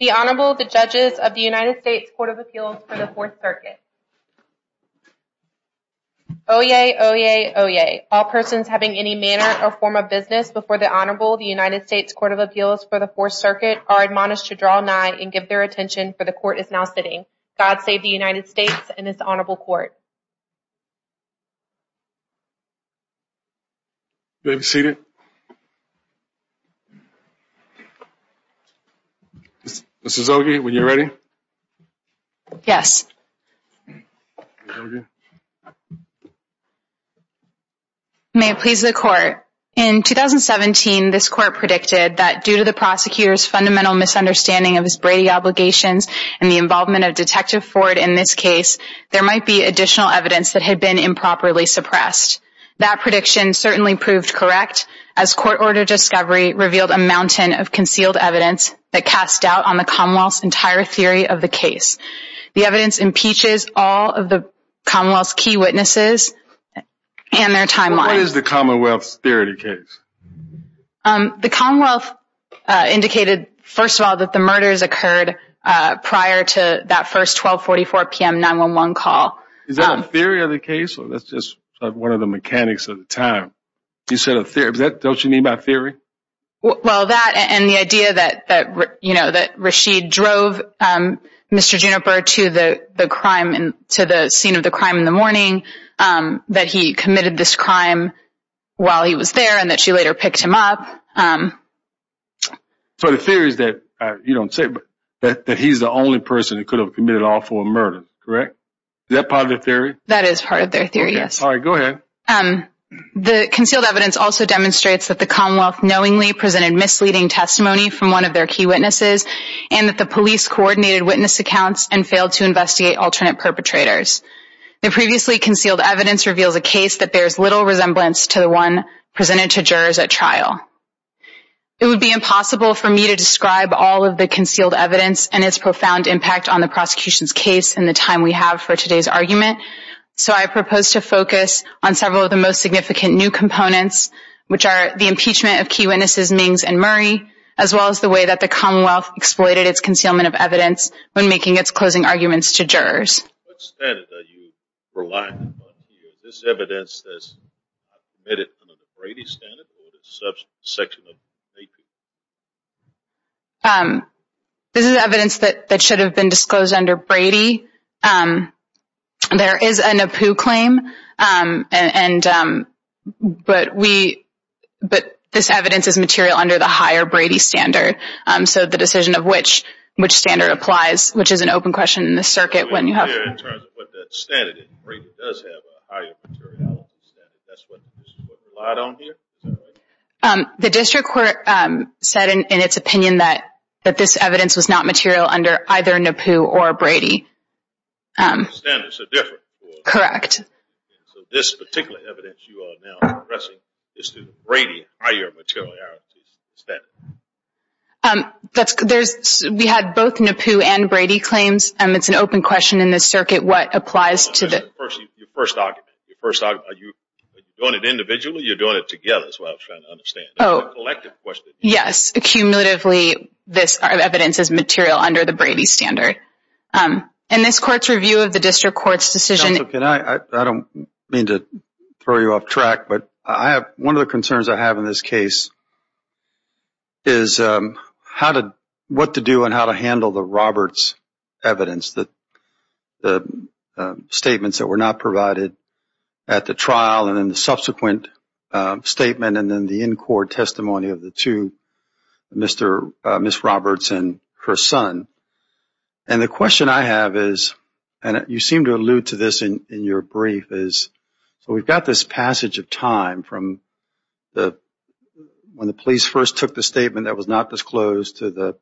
The Honorable, the Judges of the United States Court of Appeals for the Fourth Circuit. Oyez, oyez, oyez. All persons having any manner or form of business before the Honorable, the United States Court of Appeals for the Fourth Circuit are admonished to draw nigh and give their attention, for the Court is now sitting. God save the United States and this Honorable Court. You may be seated. Ms. Ogie, when you're ready. Yes. May it please the Court. In 2017, this Court predicted that due to the prosecutor's fundamental misunderstanding of his Brady obligations and the involvement of Detective Ford in this case, there might be additional evidence that had been improperly suppressed. That prediction certainly proved correct, as court-ordered discovery revealed a mountain of concealed evidence that cast doubt on the Commonwealth's entire theory of the case. The evidence impeaches all of the Commonwealth's key witnesses and their timeline. What is the Commonwealth's theory of the case? The Commonwealth indicated, first of all, that the murders occurred prior to that first 1244 PM 911 call. Is that a theory of the case, or that's just one of the mechanics of the time? You said a theory. Don't you mean by theory? Well, that and the idea that, you know, that Rashid drove Mr. Juniper to the crime, to the scene of the crime in the morning, that he committed this crime while he was there and that she later picked him up. So the theory is that, you don't say, but that he's the only person who could have committed an awful murder, correct? Is that part of the theory? That is part of their theory, yes. All right, go ahead. The concealed evidence also demonstrates that the Commonwealth knowingly presented misleading testimony from one of their key witnesses and that the police coordinated witness accounts and failed to investigate alternate perpetrators. The previously concealed evidence reveals a case that bears little resemblance to the one presented to jurors at trial. It would be impossible for me to describe all of the concealed evidence and its profound impact on the prosecution's case in the time we have for today's argument. So I propose to focus on several of the most significant new components, which are the impeachment of key witnesses, Mings and Murray, as well as the way that the Commonwealth exploited its concealment of evidence when making its closing arguments to jurors. What standard are you relying upon here? Is this evidence that I've committed under the Brady standard or is it a section of AP? This is evidence that should have been disclosed under Brady. There is a NAPU claim, but this evidence is material under the higher Brady standard. So the decision of which standard applies, which is an open question in the circuit when you have- In terms of what that standard is, Brady does have a higher materiality standard. That's what's relied on here, is that right? The district court said in its opinion that this evidence was not material under either NAPU or Brady. Standards are different. Correct. So this particular evidence you are now addressing is through the Brady higher materiality standard. We had both NAPU and Brady claims, and it's an open question in this circuit what applies to the- Your first argument. Are you doing it individually or are you doing it together? That's what I was trying to understand. Oh. It's a collective question. Yes. Cumulatively, this evidence is material under the Brady standard. In this court's review of the district court's decision- Counsel, can I? I don't mean to throw you off track, but one of the concerns I have in this case is what to do and how to handle the Roberts evidence, the statements that were not provided at the statement, and then the in-court testimony of the two, Ms. Roberts and her son. And the question I have is, and you seem to allude to this in your brief, is we've got this passage of time from when the police first took the statement that was not disclosed to the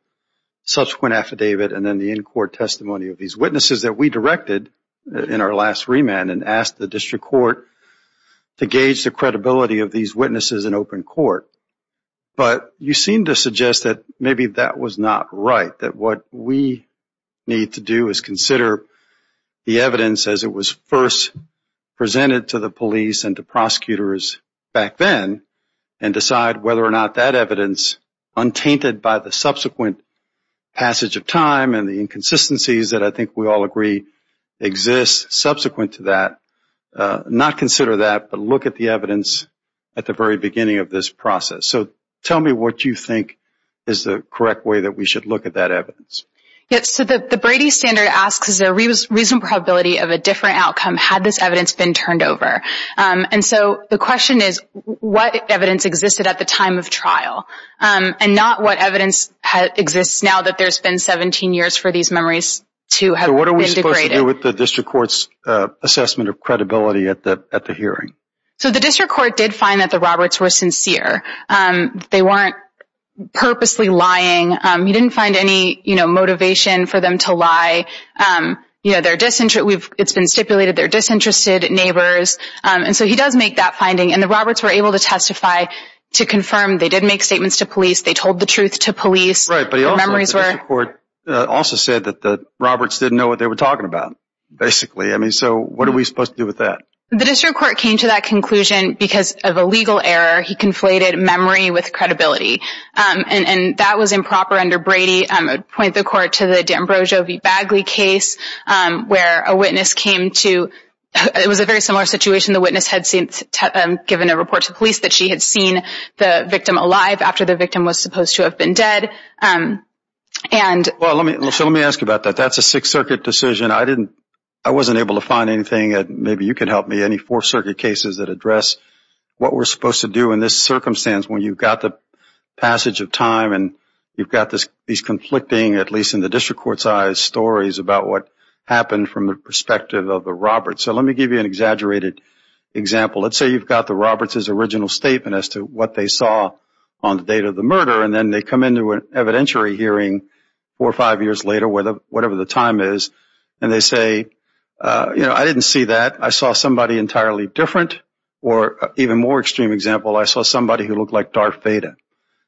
subsequent affidavit, and then the in-court testimony of these witnesses that we directed in our last remand, and asked the district court to gauge the credibility of these witnesses in open court. But you seem to suggest that maybe that was not right, that what we need to do is consider the evidence as it was first presented to the police and to prosecutors back then and decide whether or not that evidence, untainted by the subsequent passage of time and the inconsistencies that I think we all agree exist subsequent to that, not consider that but look at the evidence at the very beginning of this process. So tell me what you think is the correct way that we should look at that evidence. Yes, so the Brady standard asks, is there a reasonable probability of a different outcome had this evidence been turned over? And so the question is, what evidence existed at the time of trial? And not what evidence exists now that there's been 17 years for these memories to have been degraded. And what does that have to do with the district court's assessment of credibility at the hearing? So the district court did find that the Roberts were sincere. They weren't purposely lying, he didn't find any motivation for them to lie. It's been stipulated they're disinterested neighbors, and so he does make that finding and the Roberts were able to testify to confirm they did make statements to police, they told the truth to police. Right, but the district court also said that the Roberts didn't know what they were talking about, basically. I mean, so what are we supposed to do with that? The district court came to that conclusion because of a legal error, he conflated memory with credibility. And that was improper under Brady, I would point the court to the D'Ambrosio v. Bagley case where a witness came to, it was a very similar situation, the witness had given a report to police that she had seen the victim alive after the victim was supposed to have been dead. Well, let me ask you about that, that's a Sixth Circuit decision, I wasn't able to find anything, maybe you can help me, any Fourth Circuit cases that address what we're supposed to do in this circumstance when you've got the passage of time and you've got these conflicting, at least in the district court's eyes, stories about what happened from the perspective of the Roberts. So let me give you an exaggerated example, let's say you've got the Roberts' original statement as to what they saw on the date of the murder and then they come into an evidentiary hearing four or five years later, whatever the time is, and they say, you know, I didn't see that, I saw somebody entirely different, or even more extreme example, I saw somebody who looked like Darth Vader.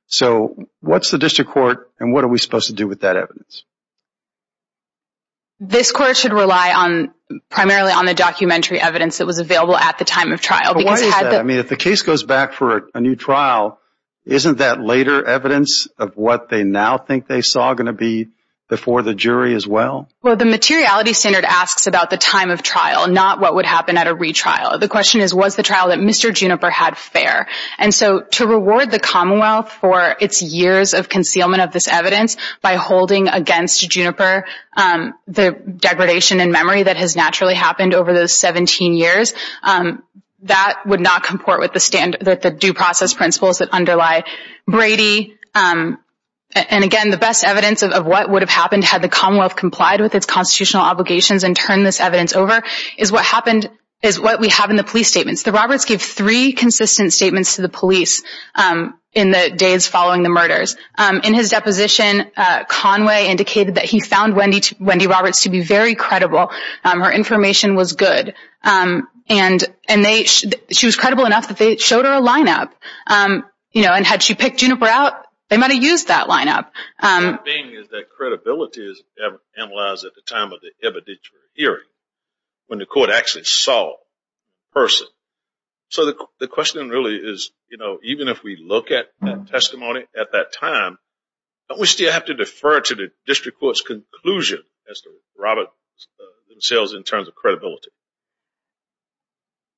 So what's the district court and what are we supposed to do with that evidence? This court should rely primarily on the documentary evidence that was available at the time of trial. But why is that? I mean, if the case goes back for a new trial, isn't that later evidence of what they now think they saw going to be before the jury as well? Well, the materiality standard asks about the time of trial, not what would happen at a retrial. The question is, was the trial that Mr. Juniper had fair? And so to reward the Commonwealth for its years of concealment of this evidence by holding against Juniper the degradation in memory that has naturally happened over those 17 years, that would not comport with the due process principles that underlie Brady. And again, the best evidence of what would have happened had the Commonwealth complied with its constitutional obligations and turned this evidence over is what we have in the police statements. The Roberts gave three consistent statements to the police in the days following the murders. In his deposition, Conway indicated that he found Wendy Roberts to be very credible. Her information was good. And she was credible enough that they showed her a lineup. And had she picked Juniper out, they might have used that lineup. The thing is that credibility is analyzed at the time of the evidentiary hearing, when the court actually saw the person. So the question really is, even if we look at that testimony at that time, don't we still have to defer to the district court's conclusion as to Roberts themselves in terms of credibility?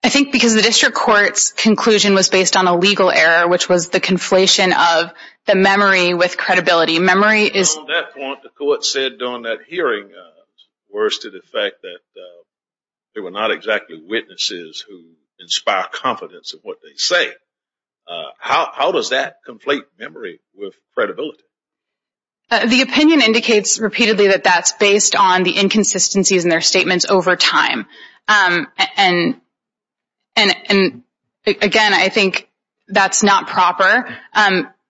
I think because the district court's conclusion was based on a legal error, which was the conflation of the memory with credibility. Memory is... On that point, the court said on that hearing, worse to the fact that there were not exactly witnesses who inspire confidence in what they say. How does that conflate memory with credibility? The opinion indicates repeatedly that that's based on the inconsistencies in their statements over time. And, again, I think that's not proper.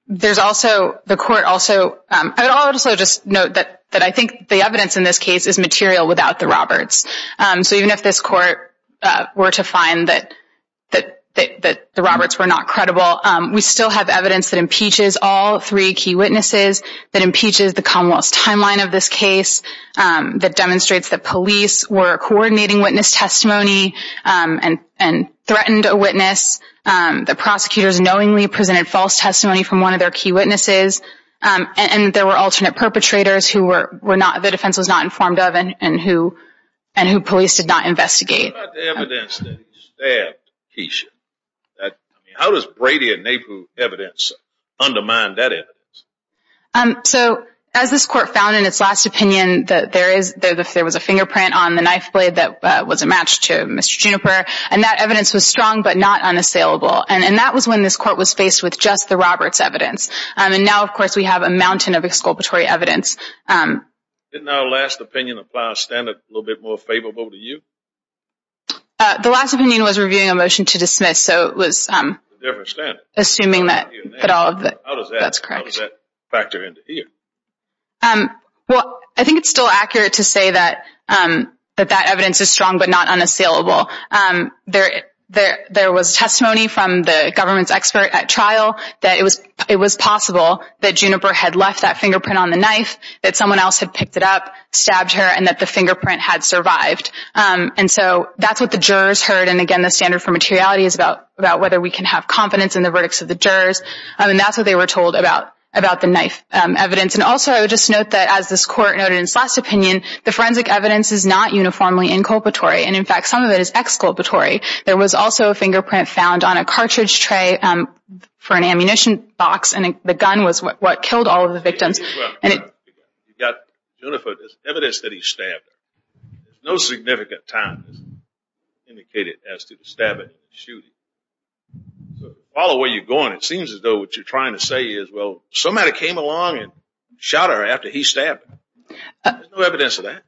There's also... The court also... I would also just note that I think the evidence in this case is material without the Roberts. So even if this court were to find that the Roberts were not credible, we still have evidence that impeaches all three key witnesses, that impeaches the Commonwealth's timeline of this case, that demonstrates that police were coordinating witness testimony and threatened a witness, the prosecutors knowingly presented false testimony from one of their key witnesses, and there were alternate perpetrators who the defense was not informed of and who police did not investigate. What about the evidence that he stabbed Keisha? How does Brady and Naples evidence undermine that evidence? As this court found in its last opinion that there was a fingerprint on the knife blade that was a match to Mr. Juniper, and that evidence was strong but not unassailable, and now, of course, we have a mountain of exculpatory evidence. Didn't our last opinion apply a standard a little bit more favorable to you? The last opinion was reviewing a motion to dismiss, so it was... A different standard. Assuming that all of the... How does that... That's correct. How does that factor into here? Well, I think it's still accurate to say that that evidence is strong but not unassailable. There was testimony from the government's expert at trial that it was possible that Juniper had left that fingerprint on the knife, that someone else had picked it up, stabbed her, and that the fingerprint had survived. And so that's what the jurors heard, and again, the standard for materiality is about whether we can have confidence in the verdicts of the jurors, and that's what they were told about the knife evidence. And also, I would just note that as this court noted in its last opinion, the forensic evidence is not uniformly inculpatory, and in fact, some of it is exculpatory. There was also a fingerprint found on a cartridge tray for an ammunition box, and the gun was what killed all of the victims. You've got, Juniper, there's evidence that he stabbed her. There's no significant time indicated as to the stabbing and shooting. All the way you're going, it seems as though what you're trying to say is, well, somebody came along and shot her after he stabbed her. There's no evidence of that.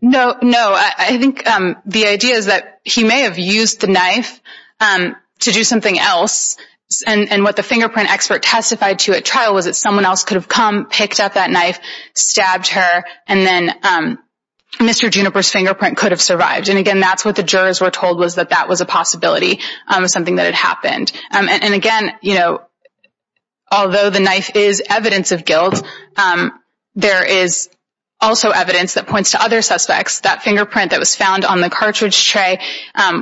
No, no. I think the idea is that he may have used the knife to do something else, and what the fingerprint expert testified to at trial was that someone else could have come, picked up that knife, stabbed her, and then Mr. Juniper's fingerprint could have survived. And again, that's what the jurors were told was that that was a possibility of something that had happened. And again, you know, although the knife is evidence of guilt, there is also evidence that points to other suspects. That fingerprint that was found on the cartridge tray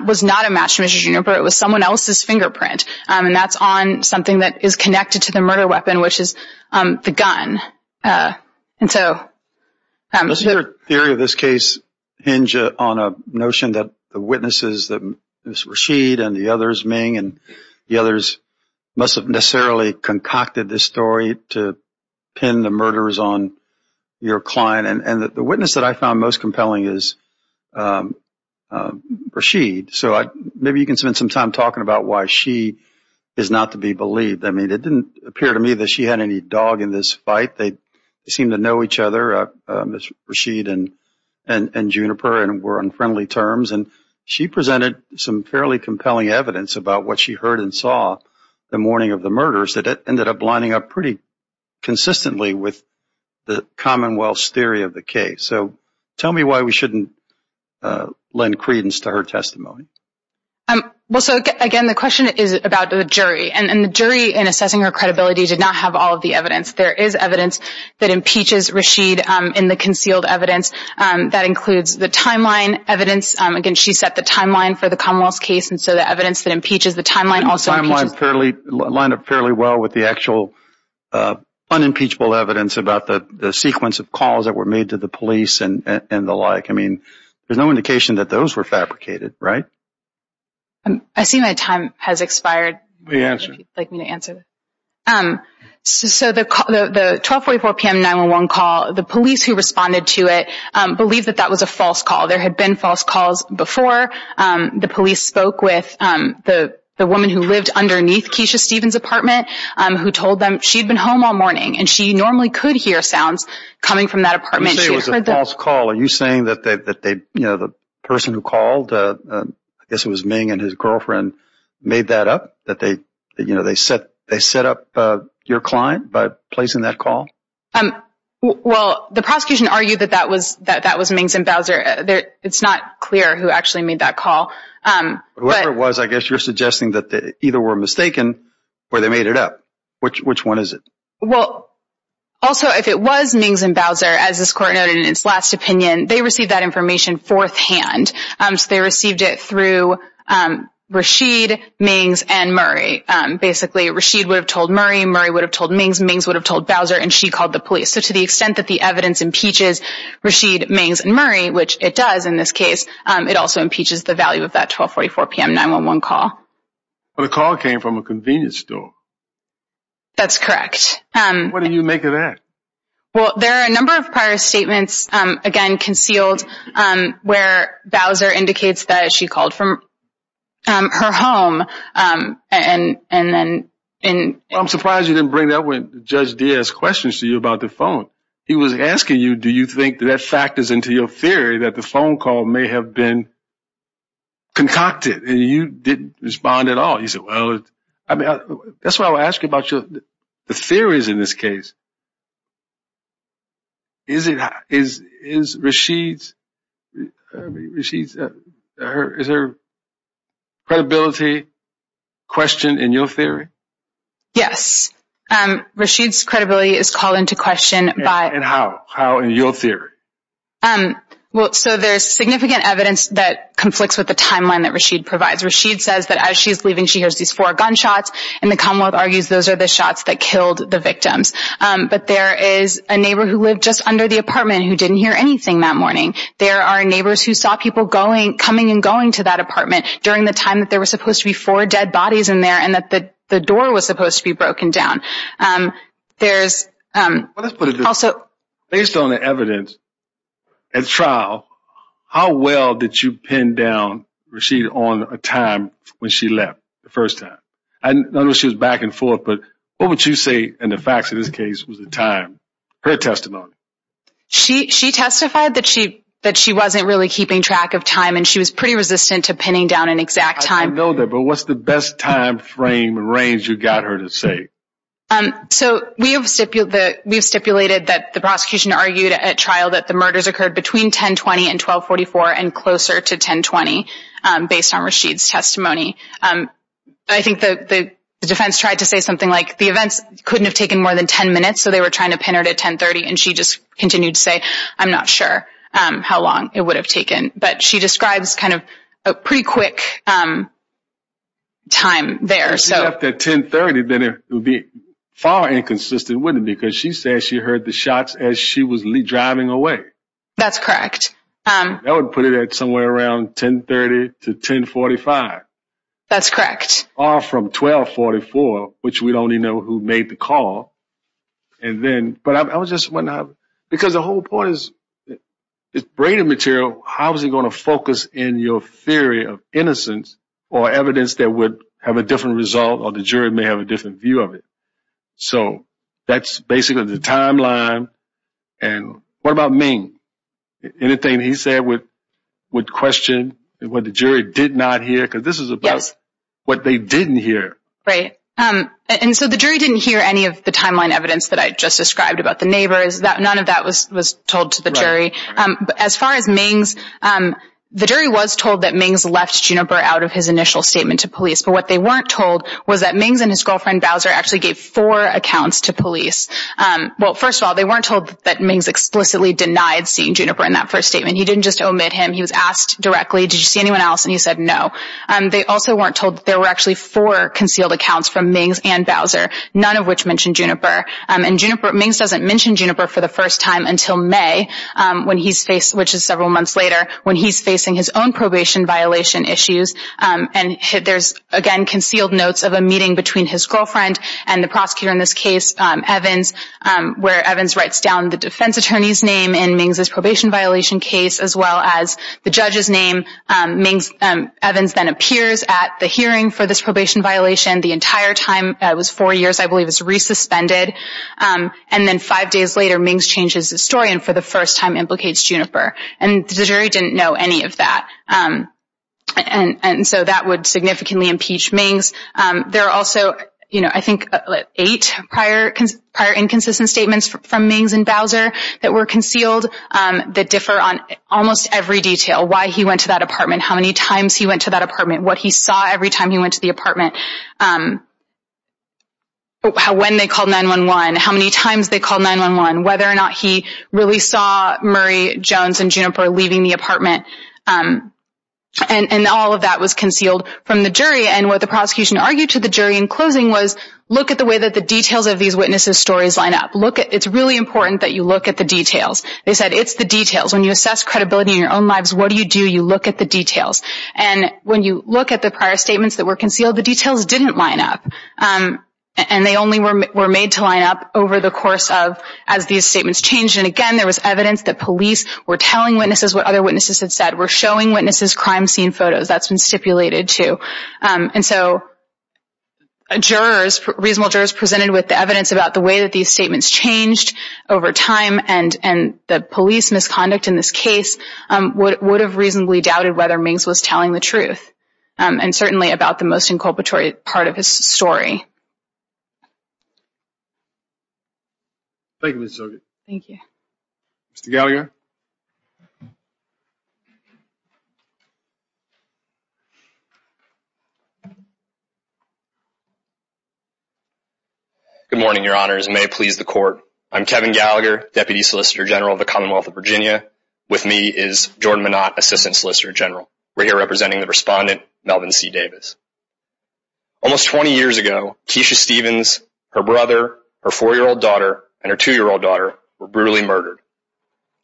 was not a match to Mr. Juniper. It was someone else's fingerprint, and that's on something that is connected to the murder weapon, which is the gun. And so... Doesn't your theory of this case hinge on a notion that the witnesses, Ms. Rashid and the others, Ming and the others, must have necessarily concocted this story to pin the murders on your client? The witness that I found most compelling is Rashid, so maybe you can spend some time talking about why she is not to be believed. I mean, it didn't appear to me that she had any dog in this fight. They seemed to know each other, Ms. Rashid and Juniper, and were on friendly terms. She presented some fairly compelling evidence about what she heard and saw the morning of consistently with the Commonwealth's theory of the case. So tell me why we shouldn't lend credence to her testimony. Well, so again, the question is about the jury, and the jury in assessing her credibility did not have all of the evidence. There is evidence that impeaches Rashid in the concealed evidence. That includes the timeline evidence. Again, she set the timeline for the Commonwealth's case, and so the evidence that impeaches the timeline also impeaches... lined up fairly well with the actual unimpeachable evidence about the sequence of calls that were made to the police and the like. I mean, there's no indication that those were fabricated, right? I see my time has expired. Let me answer. If you'd like me to answer. So the 1244 PM 911 call, the police who responded to it believed that that was a false call. There had been false calls before. The police spoke with the woman who lived underneath Keisha Stevens' apartment, who told them she'd been home all morning, and she normally could hear sounds coming from that apartment. So it was a false call. Are you saying that the person who called, I guess it was Ming and his girlfriend, made that up? That they set up your client by placing that call? Well, the prosecution argued that that was Ming's and Bowser. It's not clear who actually made that call. Whoever it was, I guess you're suggesting that either were mistaken or they made it up. Which one is it? Well, also, if it was Ming's and Bowser, as this court noted in its last opinion, they received that information fourth hand. So they received it through Rashid, Ming's, and Murray. Basically, Rashid would have told Murray, Murray would have told Ming's, Ming's would have told Bowser, and she called the police. So to the extent that the evidence impeaches Rashid, Ming's, and Murray, which it does in this case, it also impeaches the value of that 1244 PM 911 call. The call came from a convenience store. That's correct. What do you make of that? Well, there are a number of prior statements, again, concealed, where Bowser indicates that she called from her home. I'm surprised you didn't bring that up when Judge Diaz questioned you about the phone. He was asking you, do you think that factors into your theory that the phone call may have been concocted, and you didn't respond at all. You said, well, that's why I'm asking about the theories in this case. Is Rashid's credibility questioned in your theory? Yes. Rashid's credibility is called into question by... And how? How in your theory? So there's significant evidence that conflicts with the timeline that Rashid provides. Rashid says that as she's leaving, she hears these four gunshots, and the commonwealth But there is a neighbor who lived just under the apartment who didn't hear anything that morning. There are neighbors who saw people coming and going to that apartment during the time that there were supposed to be four dead bodies in there, and that the door was supposed to be broken down. Based on the evidence at trial, how well did you pin down Rashid on a time when she left, the first time? I know she was back and forth, but what would you say, in the facts of this case, was the time, her testimony? She testified that she wasn't really keeping track of time, and she was pretty resistant to pinning down an exact time. I know that, but what's the best time frame and range you got her to say? So we have stipulated that the prosecution argued at trial that the murders occurred between 10-20 and 12-44, and closer to 10-20, based on Rashid's testimony. I think the defense tried to say something like, the events couldn't have taken more than 10 minutes, so they were trying to pin her to 10-30, and she just continued to say, I'm not sure how long it would have taken. But she describes kind of a pretty quick time there. If she left at 10-30, then it would be far inconsistent, wouldn't it? Because she said she heard the shots as she was driving away. That's correct. That would put it at somewhere around 10-30 to 10-45. That's correct. Or from 12-44, which we'd only know who made the call. But I was just wondering, because the whole point is, it's braided material. How is it going to focus in your theory of innocence or evidence that would have a different result or the jury may have a different view of it? So that's basically the timeline, and what about Ming? Anything he said would question what the jury did not hear, because this is about what they didn't hear. Right. And so the jury didn't hear any of the timeline evidence that I just described about the neighbors. None of that was told to the jury. As far as Ming's, the jury was told that Ming's left Juniper out of his initial statement to police. But what they weren't told was that Ming's and his girlfriend, Bowser, actually gave four accounts to police. Well, first of all, they weren't told that Ming's explicitly denied seeing Juniper in that first statement. He didn't just omit him. He was asked directly, did you see anyone else? And he said no. They also weren't told that there were actually four concealed accounts from Ming's and Bowser, none of which mentioned Juniper. And Ming's doesn't mention Juniper for the first time until May, which is several months later, when he's facing his own probation violation issues. And there's, again, concealed notes of a meeting between his girlfriend and the prosecutor in this case, Evans, where Evans writes down the defense attorney's name in Ming's probation violation case, as well as the judge's name. Evans then appears at the hearing for this probation violation the entire time. It was four years, I believe, it was re-suspended. And then five days later, Ming's changes his story and for the first time implicates Juniper. And the jury didn't know any of that. And so that would significantly impeach Ming's. There are also, I think, eight prior inconsistent statements from Ming's and Bowser that were concealed that differ on almost every detail. Why he went to that apartment, how many times he went to that apartment, what he saw every time he went to the apartment, when they called 9-1-1, how many times they called 9-1-1, whether or not he really saw Murray, Jones, and Juniper leaving the apartment. And all of that was concealed from the jury. And what the prosecution argued to the jury in closing was, look at the way that the details of these witnesses' stories line up. It's really important that you look at the details. They said, it's the details. When you assess credibility in your own lives, what do you do? You look at the details. And when you look at the prior statements that were concealed, the details didn't line up. And they only were made to line up over the course of as these statements changed. And again, there was evidence that police were telling witnesses what other witnesses had said, were showing witnesses crime scene photos. That's been stipulated, too. And so jurors, reasonable jurors, presented with evidence about the way that these statements changed over time. And the police misconduct in this case would have reasonably doubted whether Minks was telling the truth, and certainly about the most inculpatory part of his story. Thank you, Ms. Zogid. Thank you. Mr. Gallagher? Good morning, your honors, and may it please the court. I'm Kevin Gallagher, Deputy Solicitor General of the Commonwealth of Virginia. With me is Jordan Manott, Assistant Solicitor General. We're here representing the respondent, Melvin C. Davis. Almost 20 years ago, Keisha Stevens, her brother, her four-year-old daughter, and her two-year-old daughter were brutally murdered.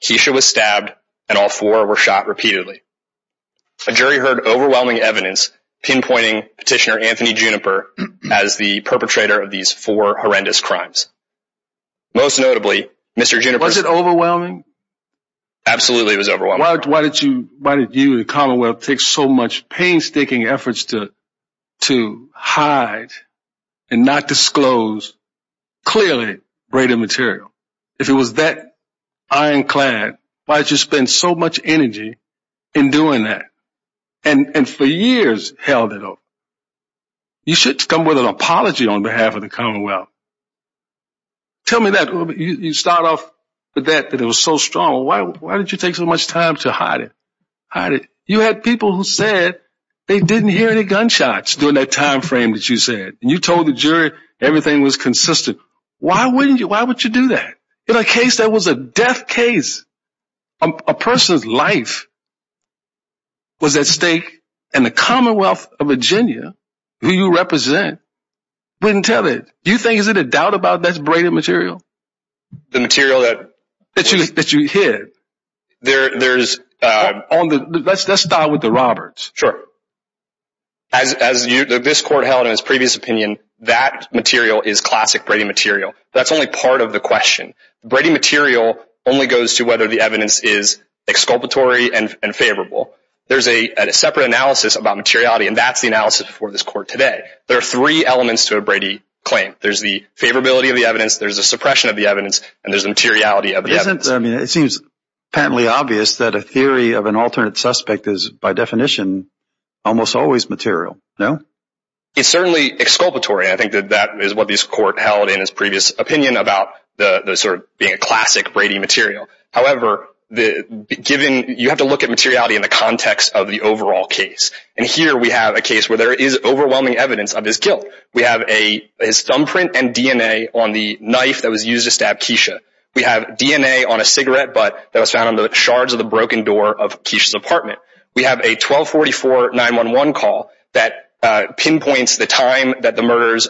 Keisha was stabbed, and all four were shot repeatedly. A jury heard overwhelming evidence pinpointing Petitioner Anthony Juniper as the perpetrator of these four horrendous crimes. Most notably, Mr. Juniper- Was it overwhelming? Absolutely it was overwhelming. Why did you, the Commonwealth, take so much painstaking efforts to hide and not disclose clearly braided material? If it was that ironclad, why did you spend so much energy in doing that and for years held it up? You should come with an apology on behalf of the Commonwealth. Tell me that. You start off with that, that it was so strong. Why did you take so much time to hide it? You had people who said they didn't hear any gunshots during that time frame that you said. You told the jury everything was consistent. Why would you do that? In a case that was a death case, a person's life was at stake, and the Commonwealth of Virginia, who you represent, wouldn't tell it. Do you think, is there a doubt about that braided material? The material that- That you hid. There's- Let's start with the Roberts. Sure. As this court held in its previous opinion, that material is classic braided material. That's only part of the question. Braided material only goes to whether the evidence is exculpatory and favorable. There's a separate analysis about materiality, and that's the analysis before this court today. There are three elements to a braided claim. There's the favorability of the evidence, there's a suppression of the evidence, and there's the materiality of the evidence. It seems apparently obvious that a theory of an alternate suspect is, by definition, almost always material. No? It's certainly exculpatory, and I think that that is what this court held in its previous opinion about the sort of being a classic braided material. However, given- You have to look at materiality in the context of the overall case. Here we have a case where there is overwhelming evidence of his guilt. We have his thumbprint and DNA on the knife that was used to stab Keisha. We have DNA on a cigarette butt that was found on the shards of the broken door of Keisha's apartment. We have a 1244-911 call that pinpoints the time that the murders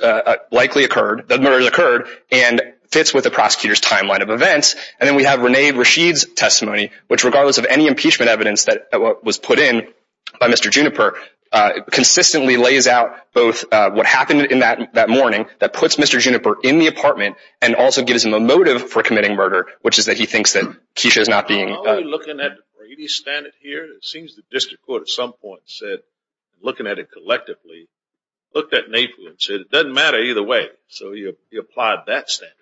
likely occurred- the murders occurred- and fits with the prosecutor's timeline of events. And then we have Rene Rashid's testimony, which regardless of any impeachment evidence that was put in by Mr. Juniper, consistently lays out both what happened in that morning that puts Mr. Juniper in the apartment and also gives him a motive for committing murder, which is that he thinks that Keisha is not being- I'm only looking at the Brady standard here. It seems the district court at some point said, looking at it collectively, looked at NAPU and said, it doesn't matter either way. So you applied that standard.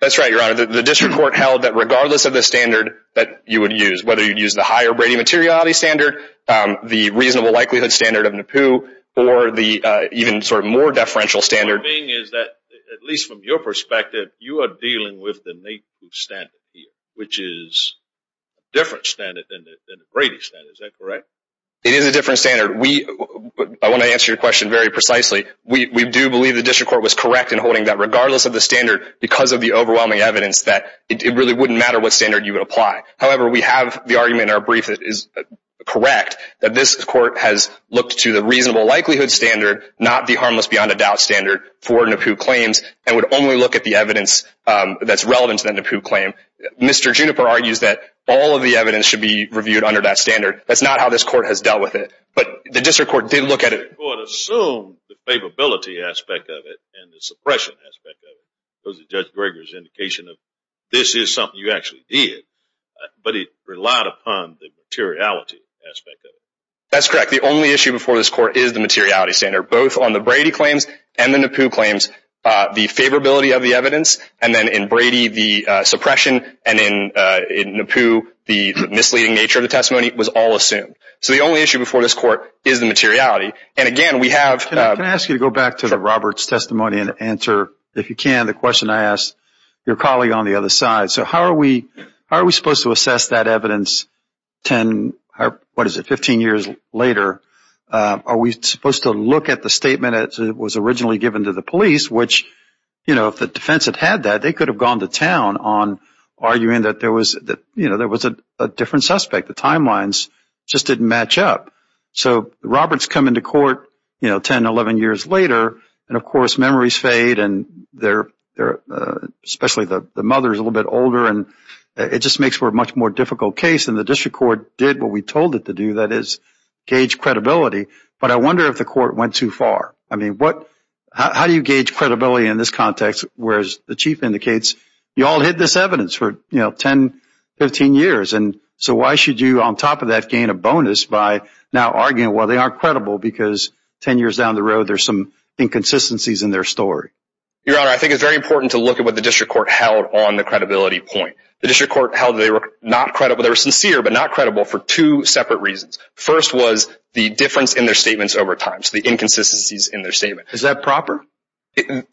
That's right, Your Honor. The district court held that regardless of the standard that you would use, whether you'd use the higher Brady materiality standard, the reasonable likelihood standard of NAPU, or the even sort of more deferential standard- The point being is that, at least from your perspective, you are dealing with the NAPU standard here, which is a different standard than the Brady standard. Is that correct? It is a different standard. We- I want to answer your question very precisely. We do believe the district court was correct in holding that regardless of the standard, because of the overwhelming evidence, that it really wouldn't matter what standard you would apply. However, we have the argument in our brief that is correct, that this court has looked to the reasonable likelihood standard, not the harmless beyond a doubt standard for NAPU claims, and would only look at the evidence that's relevant to the NAPU claim. Mr. Juniper argues that all of the evidence should be reviewed under that standard. That's not how this court has dealt with it. But the district court did look at it- The district court assumed the favorability aspect of it, and the suppression aspect of it, because of Judge Greger's indication of, this is something you actually did. But it relied upon the materiality aspect of it. That's correct. The only issue before this court is the materiality standard, both on the Brady claims and the favorability of the evidence, and then in Brady, the suppression, and in NAPU, the misleading nature of the testimony was all assumed. So the only issue before this court is the materiality, and again, we have- Can I ask you to go back to the Roberts testimony and answer, if you can, the question I asked your colleague on the other side. So how are we supposed to assess that evidence 10, what is it, 15 years later? Are we supposed to look at the statement that was originally given to the police, which if the defense had had that, they could have gone to town on arguing that there was a different suspect. The timelines just didn't match up. So Roberts come into court 10, 11 years later, and of course, memories fade, and especially the mother is a little bit older. It just makes for a much more difficult case, and the district court did what we told it to do, that is, gauge credibility, but I wonder if the court went too far. I mean, how do you gauge credibility in this context, whereas the chief indicates you all hid this evidence for 10, 15 years, and so why should you, on top of that, gain a bonus by now arguing, well, they aren't credible, because 10 years down the road, there's some inconsistencies in their story? Your Honor, I think it's very important to look at what the district court held on the credibility point. The district court held they were not credible, they were sincere, but not credible for two separate reasons. First was the difference in their statements over time, so the inconsistencies in their statement. Is that proper?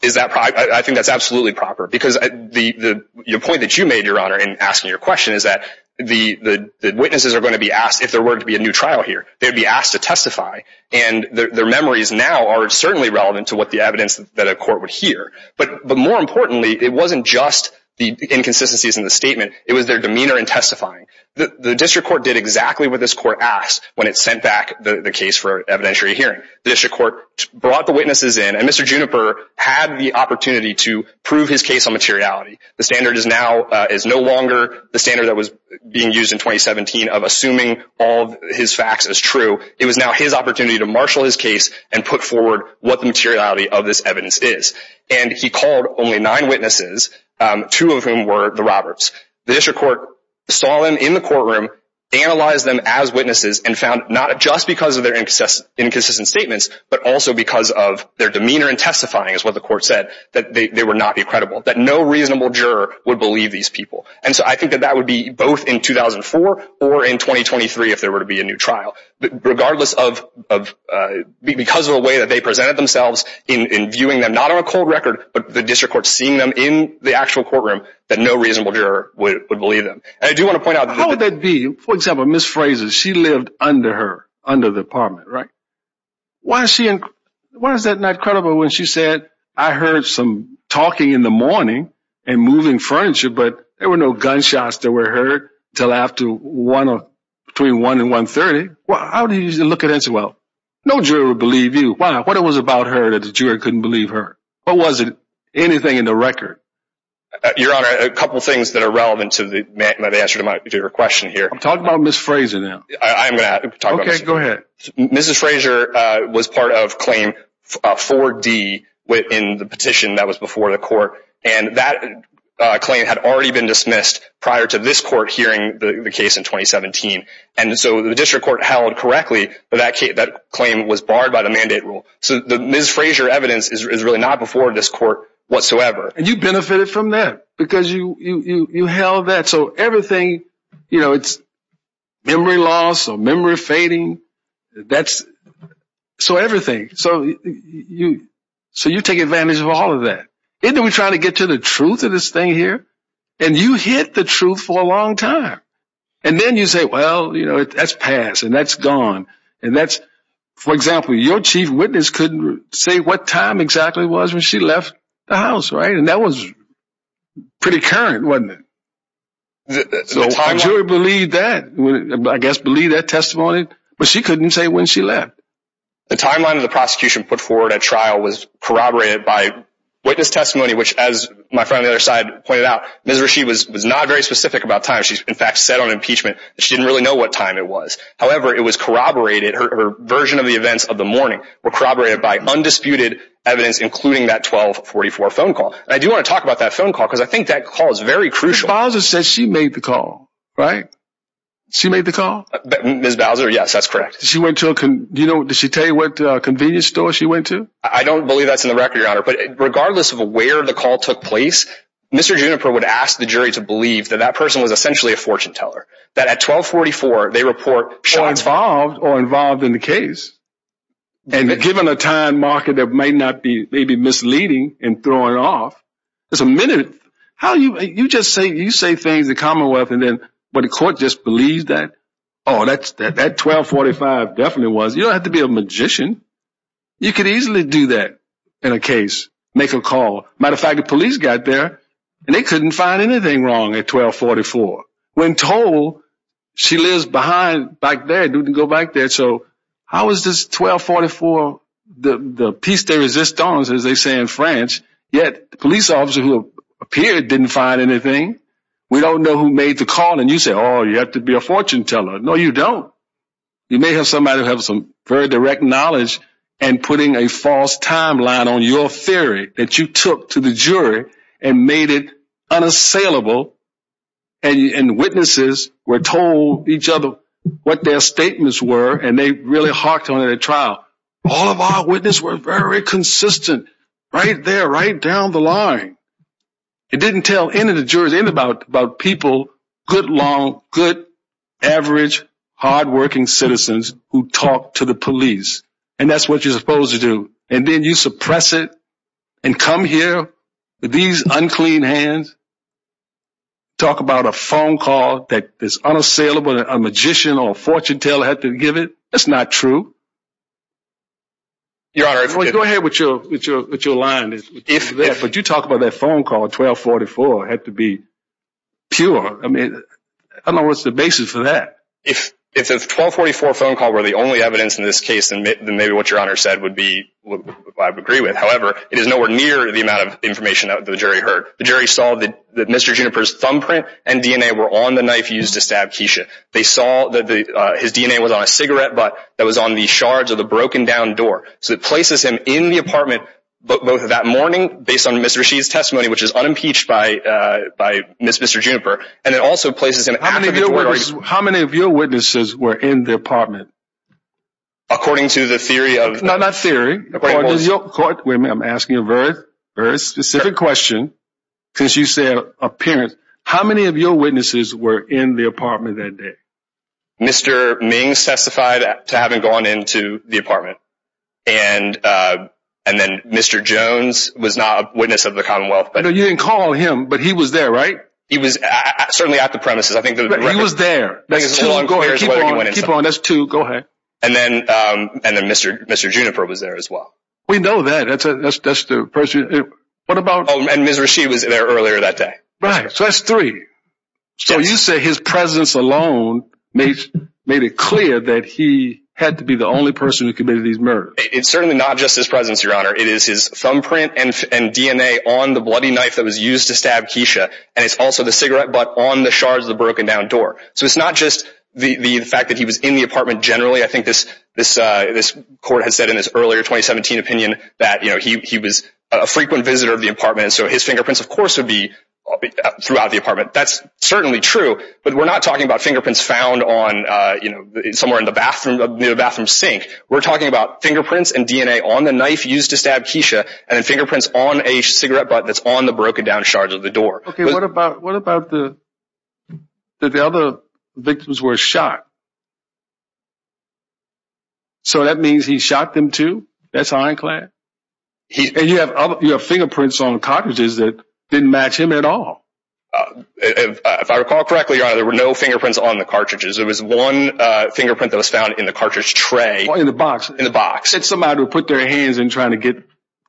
Is that proper? I think that's absolutely proper, because the point that you made, Your Honor, in asking your question is that the witnesses are going to be asked, if there were to be a new trial here, they'd be asked to testify, and their memories now are certainly relevant to what the evidence that a court would hear, but more importantly, it wasn't just the inconsistencies in the statement, it was their demeanor in testifying. The district court did exactly what this court asked when it sent back the case for evidentiary hearing. The district court brought the witnesses in, and Mr. Juniper had the opportunity to prove his case on materiality. The standard is no longer the standard that was being used in 2017 of assuming all his facts as true. It was now his opportunity to marshal his case and put forward what the materiality of this evidence is, and he called only nine witnesses, two of whom were the Roberts. The district court saw them in the courtroom, analyzed them as witnesses, and found not just because of their inconsistent statements, but also because of their demeanor in testifying is what the court said, that they were not credible, that no reasonable juror would believe these people. And so I think that that would be both in 2004 or in 2023 if there were to be a new trial, regardless of, because of the way that they presented themselves in viewing them not on a cold record, but the district court seeing them in the actual courtroom, that no reasonable juror would believe them. I do want to point out... How would that be? For example, Ms. Frazer, she lived under her, under the apartment, right? Why is she, why is that not credible when she said, I heard some talking in the morning and moving furniture, but there were no gunshots that were heard until after one, between one and 1.30. Well, how do you look at it? Well, no juror would believe you. Why? What was it about her that the juror couldn't believe her? What was it? Anything in the record? Your Honor, a couple of things that are relevant to the answer to your question here. I'm talking about Ms. Frazer now. I'm going to talk about... Okay, go ahead. Mrs. Frazer was part of claim 4D within the petition that was before the court. And that claim had already been dismissed prior to this court hearing the case in 2017. And so the district court held correctly that that claim was barred by the mandate rule. So the Ms. Frazer evidence is really not before this court whatsoever. And you benefited from that because you held that. So everything, you know, it's memory loss or memory fading. So everything. So you take advantage of all of that. And then we're trying to get to the truth of this thing here. And you hid the truth for a long time. And then you say, well, you know, that's passed and that's gone. And that's, for example, your chief witness couldn't say what time exactly it was when she left the house. Right? And that was pretty current, wasn't it? So the jury believed that, I guess believed that testimony, but she couldn't say when she left. The timeline of the prosecution put forward at trial was corroborated by witness testimony, which as my friend on the other side pointed out, Ms. Rasheed was not very specific about time. She's in fact said on impeachment that she didn't really know what time it was. However, it was corroborated, her version of the events of the morning were corroborated by undisputed evidence, including that 1244 phone call. And I do want to talk about that phone call because I think that call is very crucial. Bowser says she made the call, right? She made the call. Ms. Bowser. Yes, that's correct. She went to, you know, does she tell you what convenience store she went to? I don't believe that's in the record, your honor. But regardless of where the call took place, Mr. Juniper would ask the jury to believe that that person was essentially a fortune teller that at 1244 they report shots or involved in the case. And given a time market that may not be maybe misleading and throwing off as a minute, how you you just say you say things, the Commonwealth, and then what the court just believes that, oh, that's that 1245 definitely was. You don't have to be a magician. You could easily do that in a case, make a call. Matter of fact, the police got there and they couldn't find anything wrong at 1244. When told she lives behind back there, didn't go back there. So how is this 1244 the piece de resistance, as they say in French, yet police officer who appeared didn't find anything. We don't know who made the call and you say, oh, you have to be a fortune teller. No, you don't. You may have somebody who have some very direct knowledge and putting a false timeline on your theory that you took to the jury and made it unassailable and witnesses were told each other what their statements were. And they really hawked on a trial. All of our witnesses were very consistent right there, right down the line. It didn't tell any of the jurors in about about people, good, long, good, average, hardworking citizens who talk to the police. And that's what you're supposed to do. And then you suppress it and come here with these unclean hands. Talk about a phone call that is unassailable and a magician or a fortune teller had to give it. That's not true. Go ahead with your line, but you talk about that phone call 1244 had to be pure. I mean, I don't know what's the basis for that. If it's a 1244 phone call where the only evidence in this case, and maybe what your honor said would be what I would agree with, however, it is nowhere near the amount of information that the jury heard. The jury saw that that Mr. Juniper's thumbprint and DNA were on the knife used to stab Keisha. They saw that his DNA was on a cigarette, but that was on the shards of the broken down door. So it places him in the apartment both of that morning based on Mr. Rashid's testimony, which is unimpeached by by Mr. Juniper. And it also places him. How many of your witnesses were in the apartment? According to the theory of not theory, I'm asking a very, very specific question. Since you said appearance, how many of your witnesses were in the apartment that day? Mr. Ming testified to having gone into the apartment and and then Mr. Jones was not a witness of the Commonwealth. But you didn't call him, but he was there, right? He was certainly at the premises. I think he was there. That's too long. Go ahead. Keep on. Keep on. That's two. Go ahead. And then and then Mr. Mr. Juniper was there as well. We know that. That's a that's that's the person. What about? And Mr. Rashid was there earlier that day. Right. So that's three. So you say his presence alone made it clear that he had to be the only person who committed these murders. It's certainly not just his presence, Your Honor. It is his thumbprint and DNA on the bloody knife that was used to stab Keisha. And it's also the cigarette butt on the shards of the broken down door. So it's not just the fact that he was in the apartment generally. I think this this this court has said in this earlier 2017 opinion that he was a frequent visitor of the apartment. So his fingerprints, of course, would be throughout the apartment. That's certainly true. But we're not talking about fingerprints found on, you know, somewhere in the bathroom, near the bathroom sink. We're talking about fingerprints and DNA on the knife used to stab Keisha and fingerprints on a cigarette butt that's on the broken down shards of the door. OK, what about what about the the other victims were shot? So that means he shot them, too. That's ironclad. And you have you have fingerprints on the cartridges that didn't match him at all. If I recall correctly, there were no fingerprints on the cartridges. There was one fingerprint that was found in the cartridge tray in the box in the box. It's somebody who put their hands in trying to get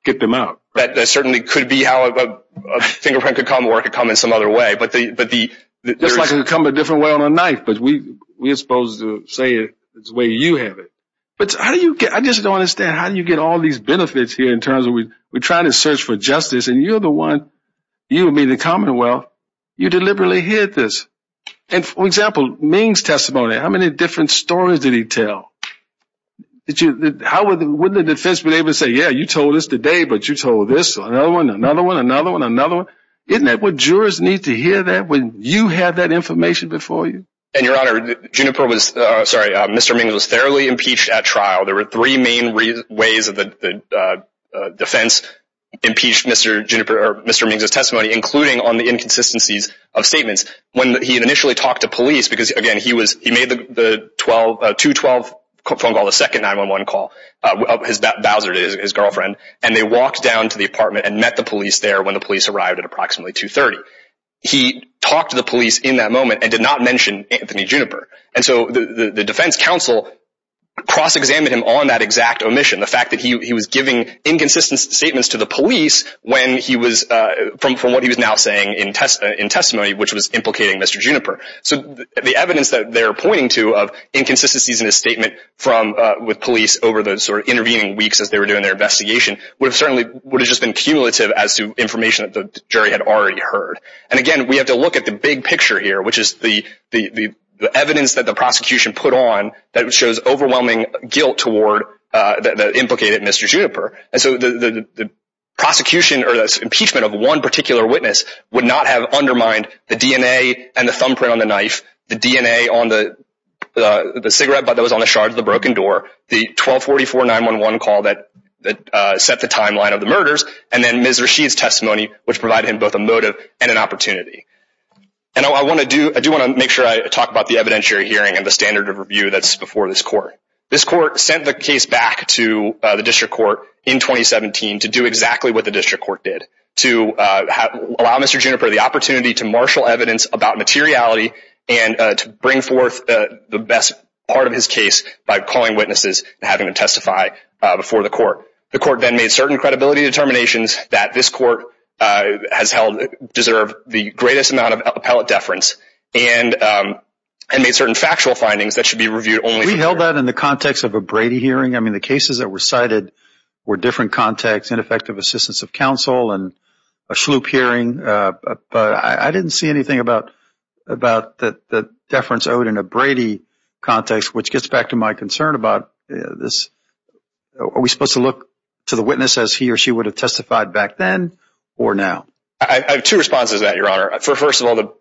get them out. That certainly could be how a fingerprint could come or could come in some other way. But but just like it would come a different way on a knife. But we we are supposed to say it's the way you have it. But how do you get I just don't understand how do you get all these benefits here in terms of we we're trying to search for justice and you're the one you mean the Commonwealth you deliberately hit this. And for example, Ming's testimony, how many different stories did he tell that you how would the defense be able to say, yeah, you told us today, but you told this another one, another one, another one, another one, isn't that what jurors need to hear? That when you have that information before you and your honor, Juniper was sorry, Mr. Ming was thoroughly impeached at trial. There were three main ways of the defense impeached Mr. Juniper or Mr. Ming's testimony, including on the inconsistencies of statements when he had initially talked to police because again, he was he made the 12 to 12 phone call the second 911 call his Bowser, his girlfriend, and they walked down to the apartment and met the police there when the police arrived at approximately 230. He talked to the police in that moment and did not mention Anthony Juniper. And so the defense counsel cross-examined him on that exact omission. The fact that he was giving inconsistent statements to the police when he was from from what he was now saying in test in testimony, which was implicating Mr. Juniper. So the evidence that they're pointing to of inconsistencies in his statement from with police over the sort of intervening weeks as they were doing their investigation, we've And again, we have to look at the big picture here, which is the the the evidence that the prosecution put on that shows overwhelming guilt toward the implicated Mr. Juniper. And so the prosecution or impeachment of one particular witness would not have undermined the DNA and the thumbprint on the knife, the DNA on the the cigarette butt that was on the shard of the broken door, the 1244 911 call that that set the timeline of the murders. And then Ms. Rasheed's testimony, which provided him both a motive and an opportunity. And I want to do I do want to make sure I talk about the evidentiary hearing and the standard of review that's before this court. This court sent the case back to the district court in 2017 to do exactly what the district court did to allow Mr. Juniper the opportunity to marshal evidence about materiality and to bring forth the best part of his case by calling witnesses and having to testify before the court. The court then made certain credibility determinations that this court has held deserve the greatest amount of appellate deference and and made certain factual findings that should be reviewed only. We held that in the context of a Brady hearing. I mean, the cases that were cited were different context, ineffective assistance of counsel and a sloop hearing. But I didn't see anything about about the deference owed in a Brady context, which gets back to my concern about this. Are we supposed to look to the witness as he or she would have testified back then or now? I have two responses that your honor for first of all, the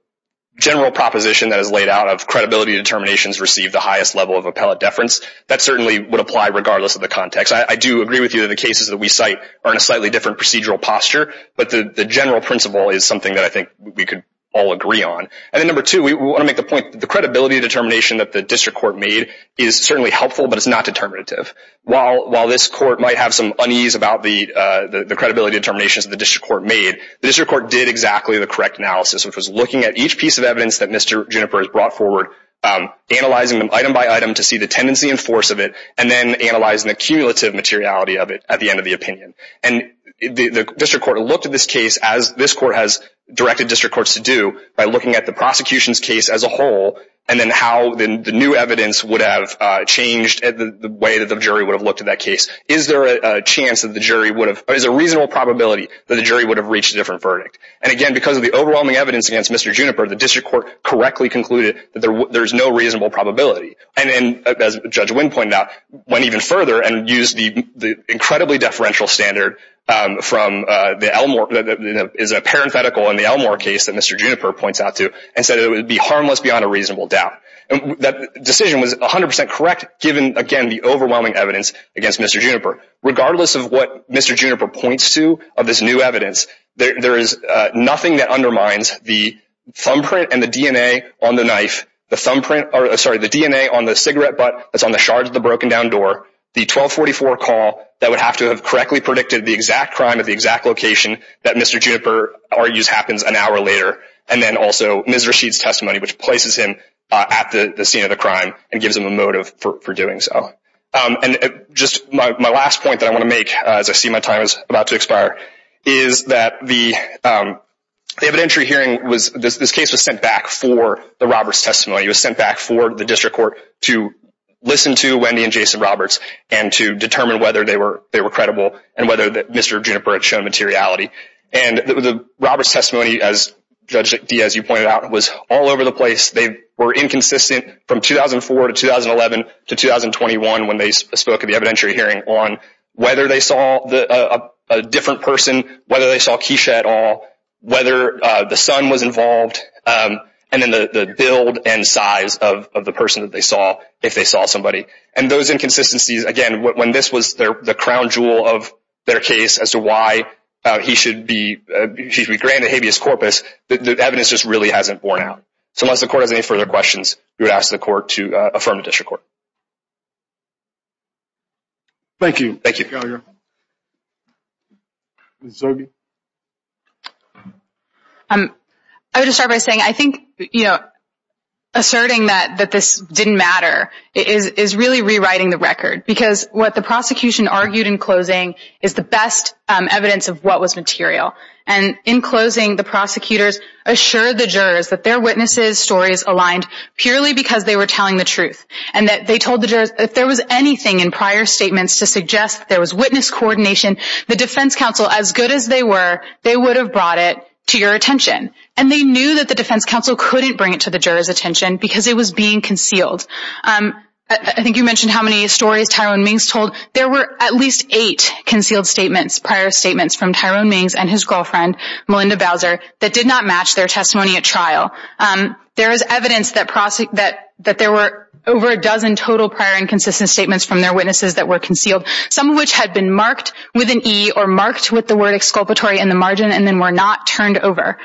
general proposition that is laid out of credibility determinations received the highest level of appellate deference that certainly would apply regardless of the context. I do agree with you that the cases that we cite are in a slightly different procedural posture, but the general principle is something that I think we could all agree on. And then number two, we want to make the point that the credibility determination that the is certainly helpful, but it's not determinative. While this court might have some unease about the credibility determinations that the district court made, the district court did exactly the correct analysis, which was looking at each piece of evidence that Mr. Juniper has brought forward, analyzing them item by item to see the tendency and force of it, and then analyzing the cumulative materiality of it at the end of the opinion. And the district court looked at this case as this court has directed district courts to do by looking at the prosecution's case as a whole, and then how the new evidence would have changed the way that the jury would have looked at that case. Is there a chance that the jury would have, or is there a reasonable probability that the jury would have reached a different verdict? And again, because of the overwhelming evidence against Mr. Juniper, the district court correctly concluded that there's no reasonable probability. And then, as Judge Winn pointed out, went even further and used the incredibly deferential standard from the Elmore, is a parenthetical in the Elmore case that Mr. Juniper points out to, and said it would be harmless beyond a reasonable doubt. That decision was 100% correct, given, again, the overwhelming evidence against Mr. Juniper. Regardless of what Mr. Juniper points to of this new evidence, there is nothing that undermines the thumbprint and the DNA on the knife, the thumbprint, or sorry, the DNA on the cigarette butt that's on the shards of the broken-down door, the 1244 call that would have to have correctly predicted the exact crime at the exact location that Mr. Juniper argues happens an hour later, and then also Ms. Rasheed's testimony, which places him at the scene of the crime and gives him a motive for doing so. And just my last point that I want to make, as I see my time is about to expire, is that the evidentiary hearing was, this case was sent back for the Roberts testimony. It was sent back for the district court to listen to Wendy and Jason Roberts and to determine whether they were credible and whether Mr. Juniper had shown materiality. And the Roberts testimony, as Judge Diaz, you pointed out, was all over the place. They were inconsistent from 2004 to 2011 to 2021 when they spoke at the evidentiary hearing on whether they saw a different person, whether they saw Keisha at all, whether the son was involved, and then the build and size of the person that they saw, if they saw somebody. And those inconsistencies, again, when this was the crown jewel of their case as to why he should be granted habeas corpus, the evidence just really hasn't borne out. So unless the court has any further questions, we would ask the court to affirm the district court. Thank you. Thank you. I would just start by saying, I think, you know, asserting that this didn't matter is really rewriting the record. Because what the prosecution argued in closing is the best evidence of what was material. And in closing, the prosecutors assured the jurors that their witnesses' stories aligned purely because they were telling the truth. And that they told the jurors, if there was anything in prior statements to suggest there was witness coordination, the defense counsel, as good as they were, they would have brought it to your attention. And they knew that the defense counsel couldn't bring it to the jurors' attention because it was being concealed. I think you mentioned how many stories Tyrone Mings told. There were at least eight concealed statements, prior statements, from Tyrone Mings and his girlfriend, Melinda Bowser, that did not match their testimony at trial. There is evidence that there were over a dozen total prior inconsistent statements from their witnesses that were concealed, some of which had been marked with an E or marked with the word exculpatory in the margin and then were not turned over.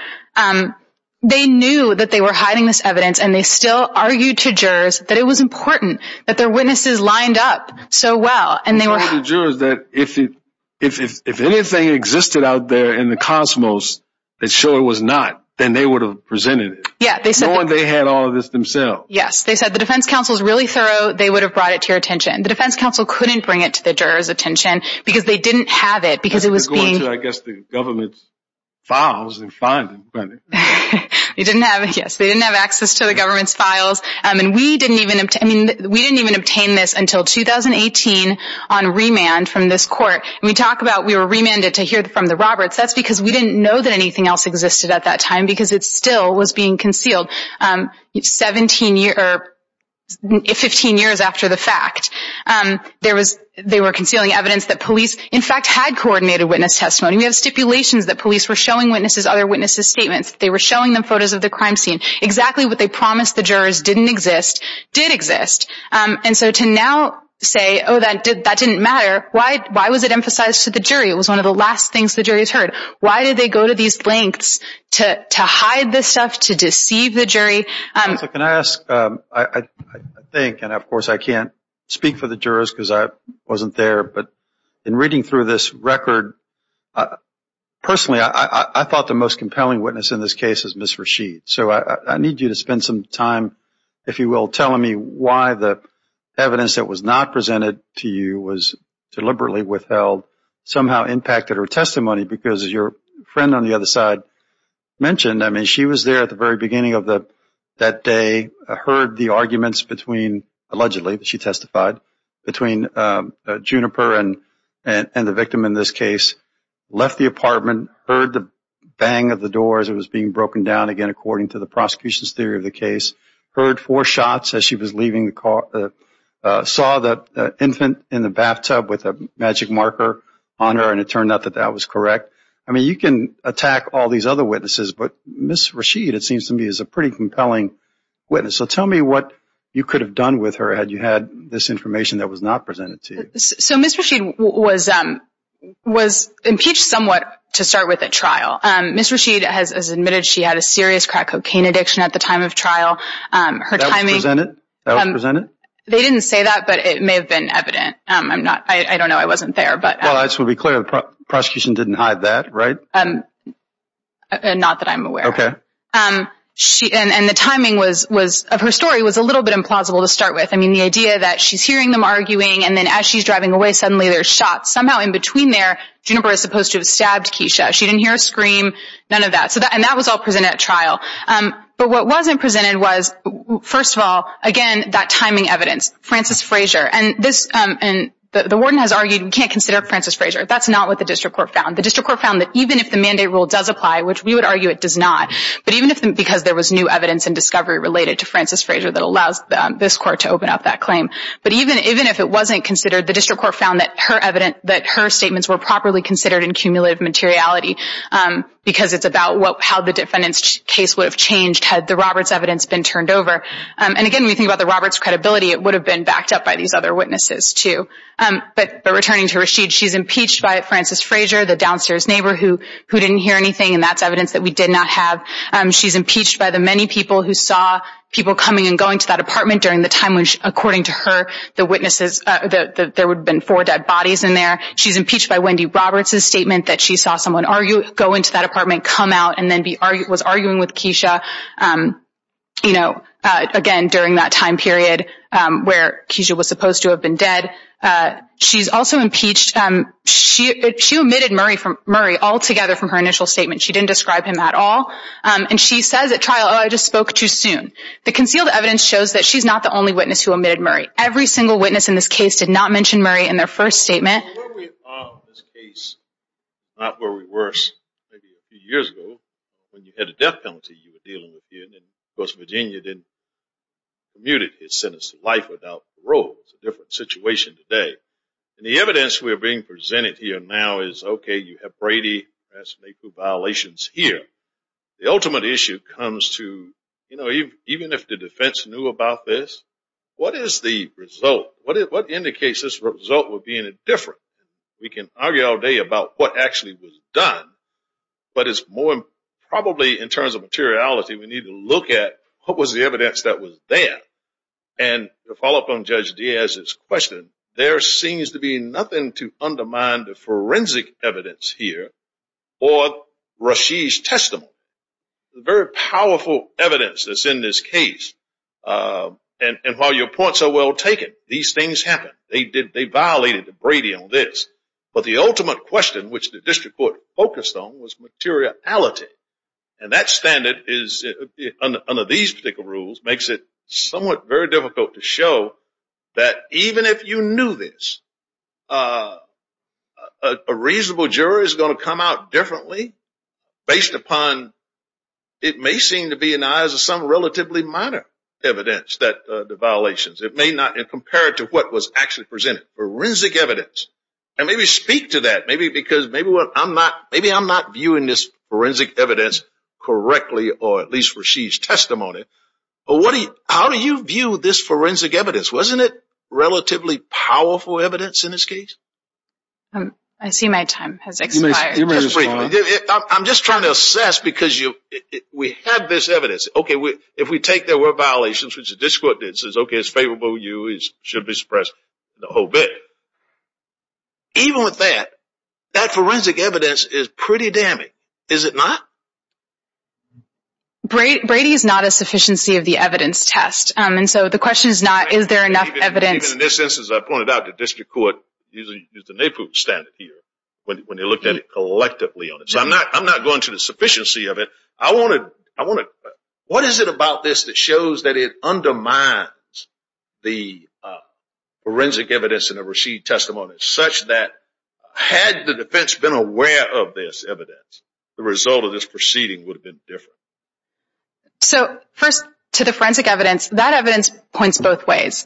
They knew that they were hiding this evidence and they still argued to jurors that it was important that their witnesses lined up so well. And they were... They told the jurors that if anything existed out there in the cosmos that showed it was not, then they would have presented it. Yeah. Knowing they had all of this themselves. Yes. They said the defense counsel is really thorough, they would have brought it to your attention. The defense counsel couldn't bring it to the jurors' attention because they didn't have it because it was being... They didn't have it. They didn't have it. Yes. They didn't have access to the government's files. And we didn't even... I mean, we didn't even obtain this until 2018 on remand from this court. And we talk about we were remanded to hear from the Roberts. That's because we didn't know that anything else existed at that time because it still was being concealed. Seventeen years... Fifteen years after the fact, there was... They were concealing evidence that police, in fact, had coordinated witness testimony. We have stipulations that police were showing witnesses other witnesses' statements. They were showing them photos of the crime scene. Exactly what they promised the jurors didn't exist, did exist. And so to now say, oh, that didn't matter, why was it emphasized to the jury? It was one of the last things the jury has heard. Why did they go to these lengths to hide this stuff, to deceive the jury? So can I ask, I think, and of course I can't speak for the jurors because I wasn't there, but in reading through this record, personally, I thought the most compelling witness in this case is Ms. Rashid. So I need you to spend some time, if you will, telling me why the evidence that was not presented to you was deliberately withheld somehow impacted her testimony because as your friend on the other side mentioned, I mean, she was there at the very beginning of that day, heard the and the victim in this case, left the apartment, heard the bang of the door as it was being broken down, again, according to the prosecution's theory of the case, heard four shots as she was leaving the car, saw the infant in the bathtub with a magic marker on her and it turned out that that was correct. I mean, you can attack all these other witnesses, but Ms. Rashid, it seems to me, is a pretty compelling witness. So tell me what you could have done with her had you had this information that was not presented to you. So Ms. Rashid was impeached somewhat to start with at trial. Ms. Rashid has admitted she had a serious crack cocaine addiction at the time of trial. Her timing... That was presented? That was presented? They didn't say that, but it may have been evident. I don't know. I wasn't there, but... Well, I just want to be clear, the prosecution didn't hide that, right? Not that I'm aware of. Okay. And the timing of her story was a little bit implausible to start with. I mean, the idea that she's hearing them arguing and then as she's driving away, suddenly there's shots. Somehow in between there, Juniper is supposed to have stabbed Keisha. She didn't hear a scream, none of that. And that was all presented at trial. But what wasn't presented was, first of all, again, that timing evidence, Francis Frazier. And the warden has argued we can't consider Francis Frazier. That's not what the district court found. The district court found that even if the mandate rule does apply, which we would argue it does not, but even if... Because there was new evidence and discovery related to Francis Frazier that allows this court to open up that claim. But even if it wasn't considered, the district court found that her evidence, that her statements were properly considered in cumulative materiality, because it's about how the defendant's case would have changed had the Roberts' evidence been turned over. And again, when you think about the Roberts' credibility, it would have been backed up by these other witnesses, too. But returning to Rasheed, she's impeached by Francis Frazier, the downstairs neighbor who didn't hear anything, and that's evidence that we did not have. She's impeached by the many people who saw people coming and going to that apartment during the time when, according to her, the witnesses... There would have been four dead bodies in there. She's impeached by Wendy Roberts' statement that she saw someone go into that apartment, come out, and then was arguing with Keisha, again, during that time period where Keisha was supposed to have been dead. She's also impeached... She omitted Murray altogether from her initial statement. She didn't describe him at all. And she says at trial, oh, I just spoke too soon. The concealed evidence shows that she's not the only witness who omitted Murray. Every single witness in this case did not mention Murray in their first statement. Where we are in this case, not where we were maybe a few years ago, when you had a death penalty you were dealing with here, and then, of course, Virginia then commuted his sentence to life without parole. It's a different situation today. And the evidence we are being presented here now is, okay, you have Brady, Rasheed, Mayfoo violations here. The ultimate issue comes to, you know, even if the defense knew about this, what is the result? What indicates this result would be any different? We can argue all day about what actually was done, but it's more probably in terms of materiality we need to look at what was the evidence that was there. And to follow up on Judge Diaz's question, there seems to be nothing to undermine the testimony. The very powerful evidence that's in this case, and while your points are well taken, these things happen. They violated the Brady on this. But the ultimate question, which the district court focused on, was materiality. And that standard under these particular rules makes it somewhat very difficult to show that even if you knew this, a reasonable jury is going to come out differently based upon it may seem to be in the eyes of some relatively minor evidence that the violations. It may not, and compared to what was actually presented, forensic evidence, and maybe speak to that, maybe because maybe I'm not viewing this forensic evidence correctly, or at least Rasheed's testimony, but how do you view this forensic evidence? Wasn't it relatively powerful evidence in this case? I see my time has expired. I'm just trying to assess because we have this evidence. If we take the word violations, which the district court did, says, okay, it's favorable to you, it should be suppressed, and the whole bit, even with that, that forensic evidence is pretty damning. Is it not? Brady is not a sufficiency of the evidence test. The question is not, is there enough evidence? Even in this instance, as I pointed out, the district court used the NAEPU standard here when they looked at it collectively on it. I'm not going to the sufficiency of it. What is it about this that shows that it undermines the forensic evidence in the Rasheed testimony such that had the defense been aware of this evidence, the result of this proceeding would have been different? So, first, to the forensic evidence, that evidence points both ways.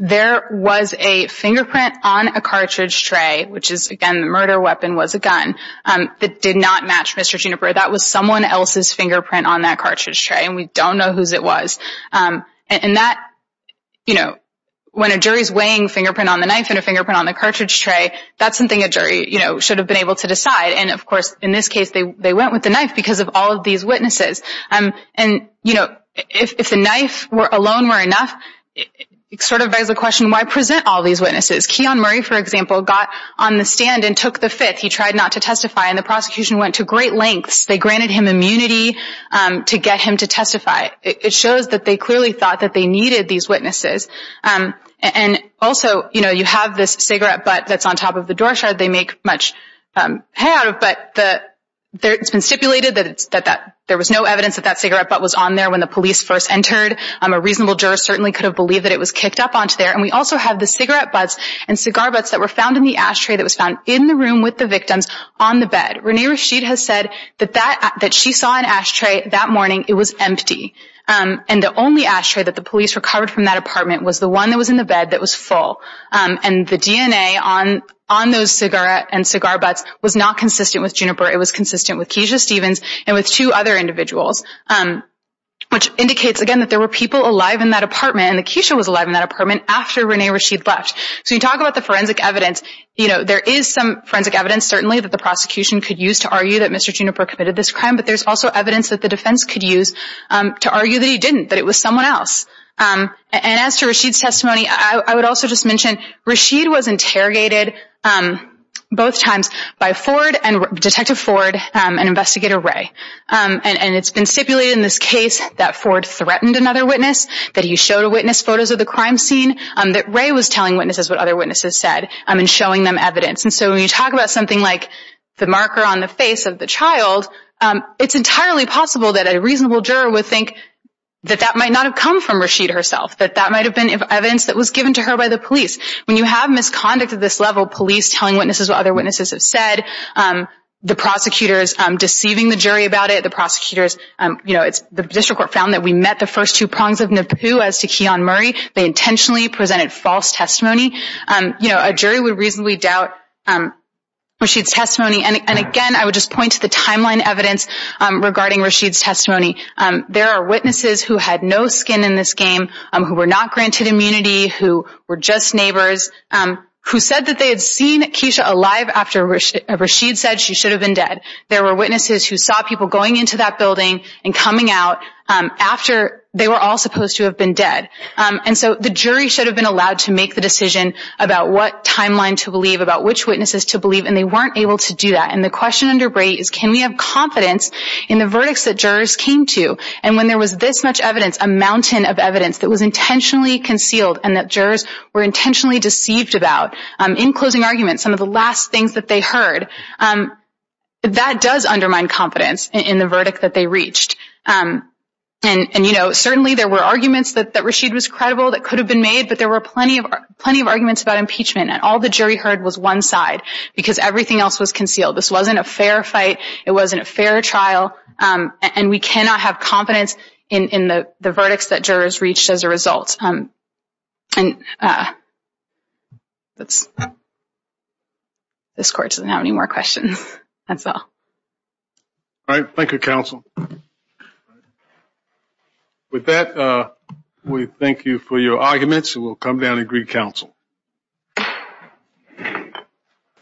There was a fingerprint on a cartridge tray, which is, again, the murder weapon was a gun, that did not match Mr. Ginabar. That was someone else's fingerprint on that cartridge tray, and we don't know whose it was. And that, you know, when a jury's weighing fingerprint on the knife and a fingerprint on the cartridge tray, that's something a jury, you know, should have been able to decide. And of course, in this case, they went with the knife because of all of these witnesses. And you know, if the knife alone were enough, it sort of begs the question, why present all these witnesses? Keon Murray, for example, got on the stand and took the fifth. He tried not to testify, and the prosecution went to great lengths. They granted him immunity to get him to testify. It shows that they clearly thought that they needed these witnesses. And also, you know, you have this cigarette butt that's on top of the door shard. They make much hay out of it, but it's been stipulated that there was no evidence that that cigarette butt was on there when the police first entered. A reasonable juror certainly could have believed that it was kicked up onto there. And we also have the cigarette butts and cigar butts that were found in the ashtray that was found in the room with the victims on the bed. Renee Rashid has said that she saw an ashtray that morning. It was empty. And the only ashtray that the police recovered from that apartment was the one that was in the bed that was full. And the DNA on those cigarette and cigar butts was not consistent with Juniper. It was consistent with Keisha Stevens and with two other individuals, which indicates, again, that there were people alive in that apartment, and that Keisha was alive in that apartment after Renee Rashid left. So you talk about the forensic evidence, you know, there is some forensic evidence certainly that the prosecution could use to argue that Mr. Juniper committed this crime, but there's also evidence that the defense could use to argue that he didn't, that it was someone else. And as to Rashid's testimony, I would also just mention, Rashid was interrogated both times by Ford, Detective Ford, and Investigator Ray. And it's been stipulated in this case that Ford threatened another witness, that he showed a witness photos of the crime scene, that Ray was telling witnesses what other witnesses said and showing them evidence. And so when you talk about something like the marker on the face of the child, it's entirely possible that a reasonable juror would think that that might not have come from Rashid herself, that that might have been evidence that was given to her by the police. When you have misconduct at this level, police telling witnesses what other witnesses have said, the prosecutors deceiving the jury about it, the prosecutors, you know, the district court found that we met the first two prongs of Naboo as to Keon Murray, they intentionally presented false testimony, you know, a jury would reasonably doubt Rashid's testimony. And again, I would just point to the timeline evidence regarding Rashid's testimony. There are witnesses who had no skin in this game, who were not granted immunity, who were just neighbors, who said that they had seen Keisha alive after Rashid said she should have been dead. There were witnesses who saw people going into that building and coming out after they were all supposed to have been dead. And so the jury should have been allowed to make the decision about what timeline to believe, about which witnesses to believe, and they weren't able to do that. And the question under Bray is can we have confidence in the verdicts that jurors came to and when there was this much evidence, a mountain of evidence that was intentionally concealed and that jurors were intentionally deceived about, in closing arguments, some of the last things that they heard, that does undermine confidence in the verdict that they reached. And, you know, certainly there were arguments that Rashid was credible that could have been made, but there were plenty of arguments about impeachment and all the jury heard was one side. Because everything else was concealed. This wasn't a fair fight. It wasn't a fair trial. And we cannot have confidence in the verdicts that jurors reached as a result. And that's, this court doesn't have any more questions. That's all. All right. Thank you, counsel. With that, we thank you for your arguments and we'll come down and agree counsel. Thank you.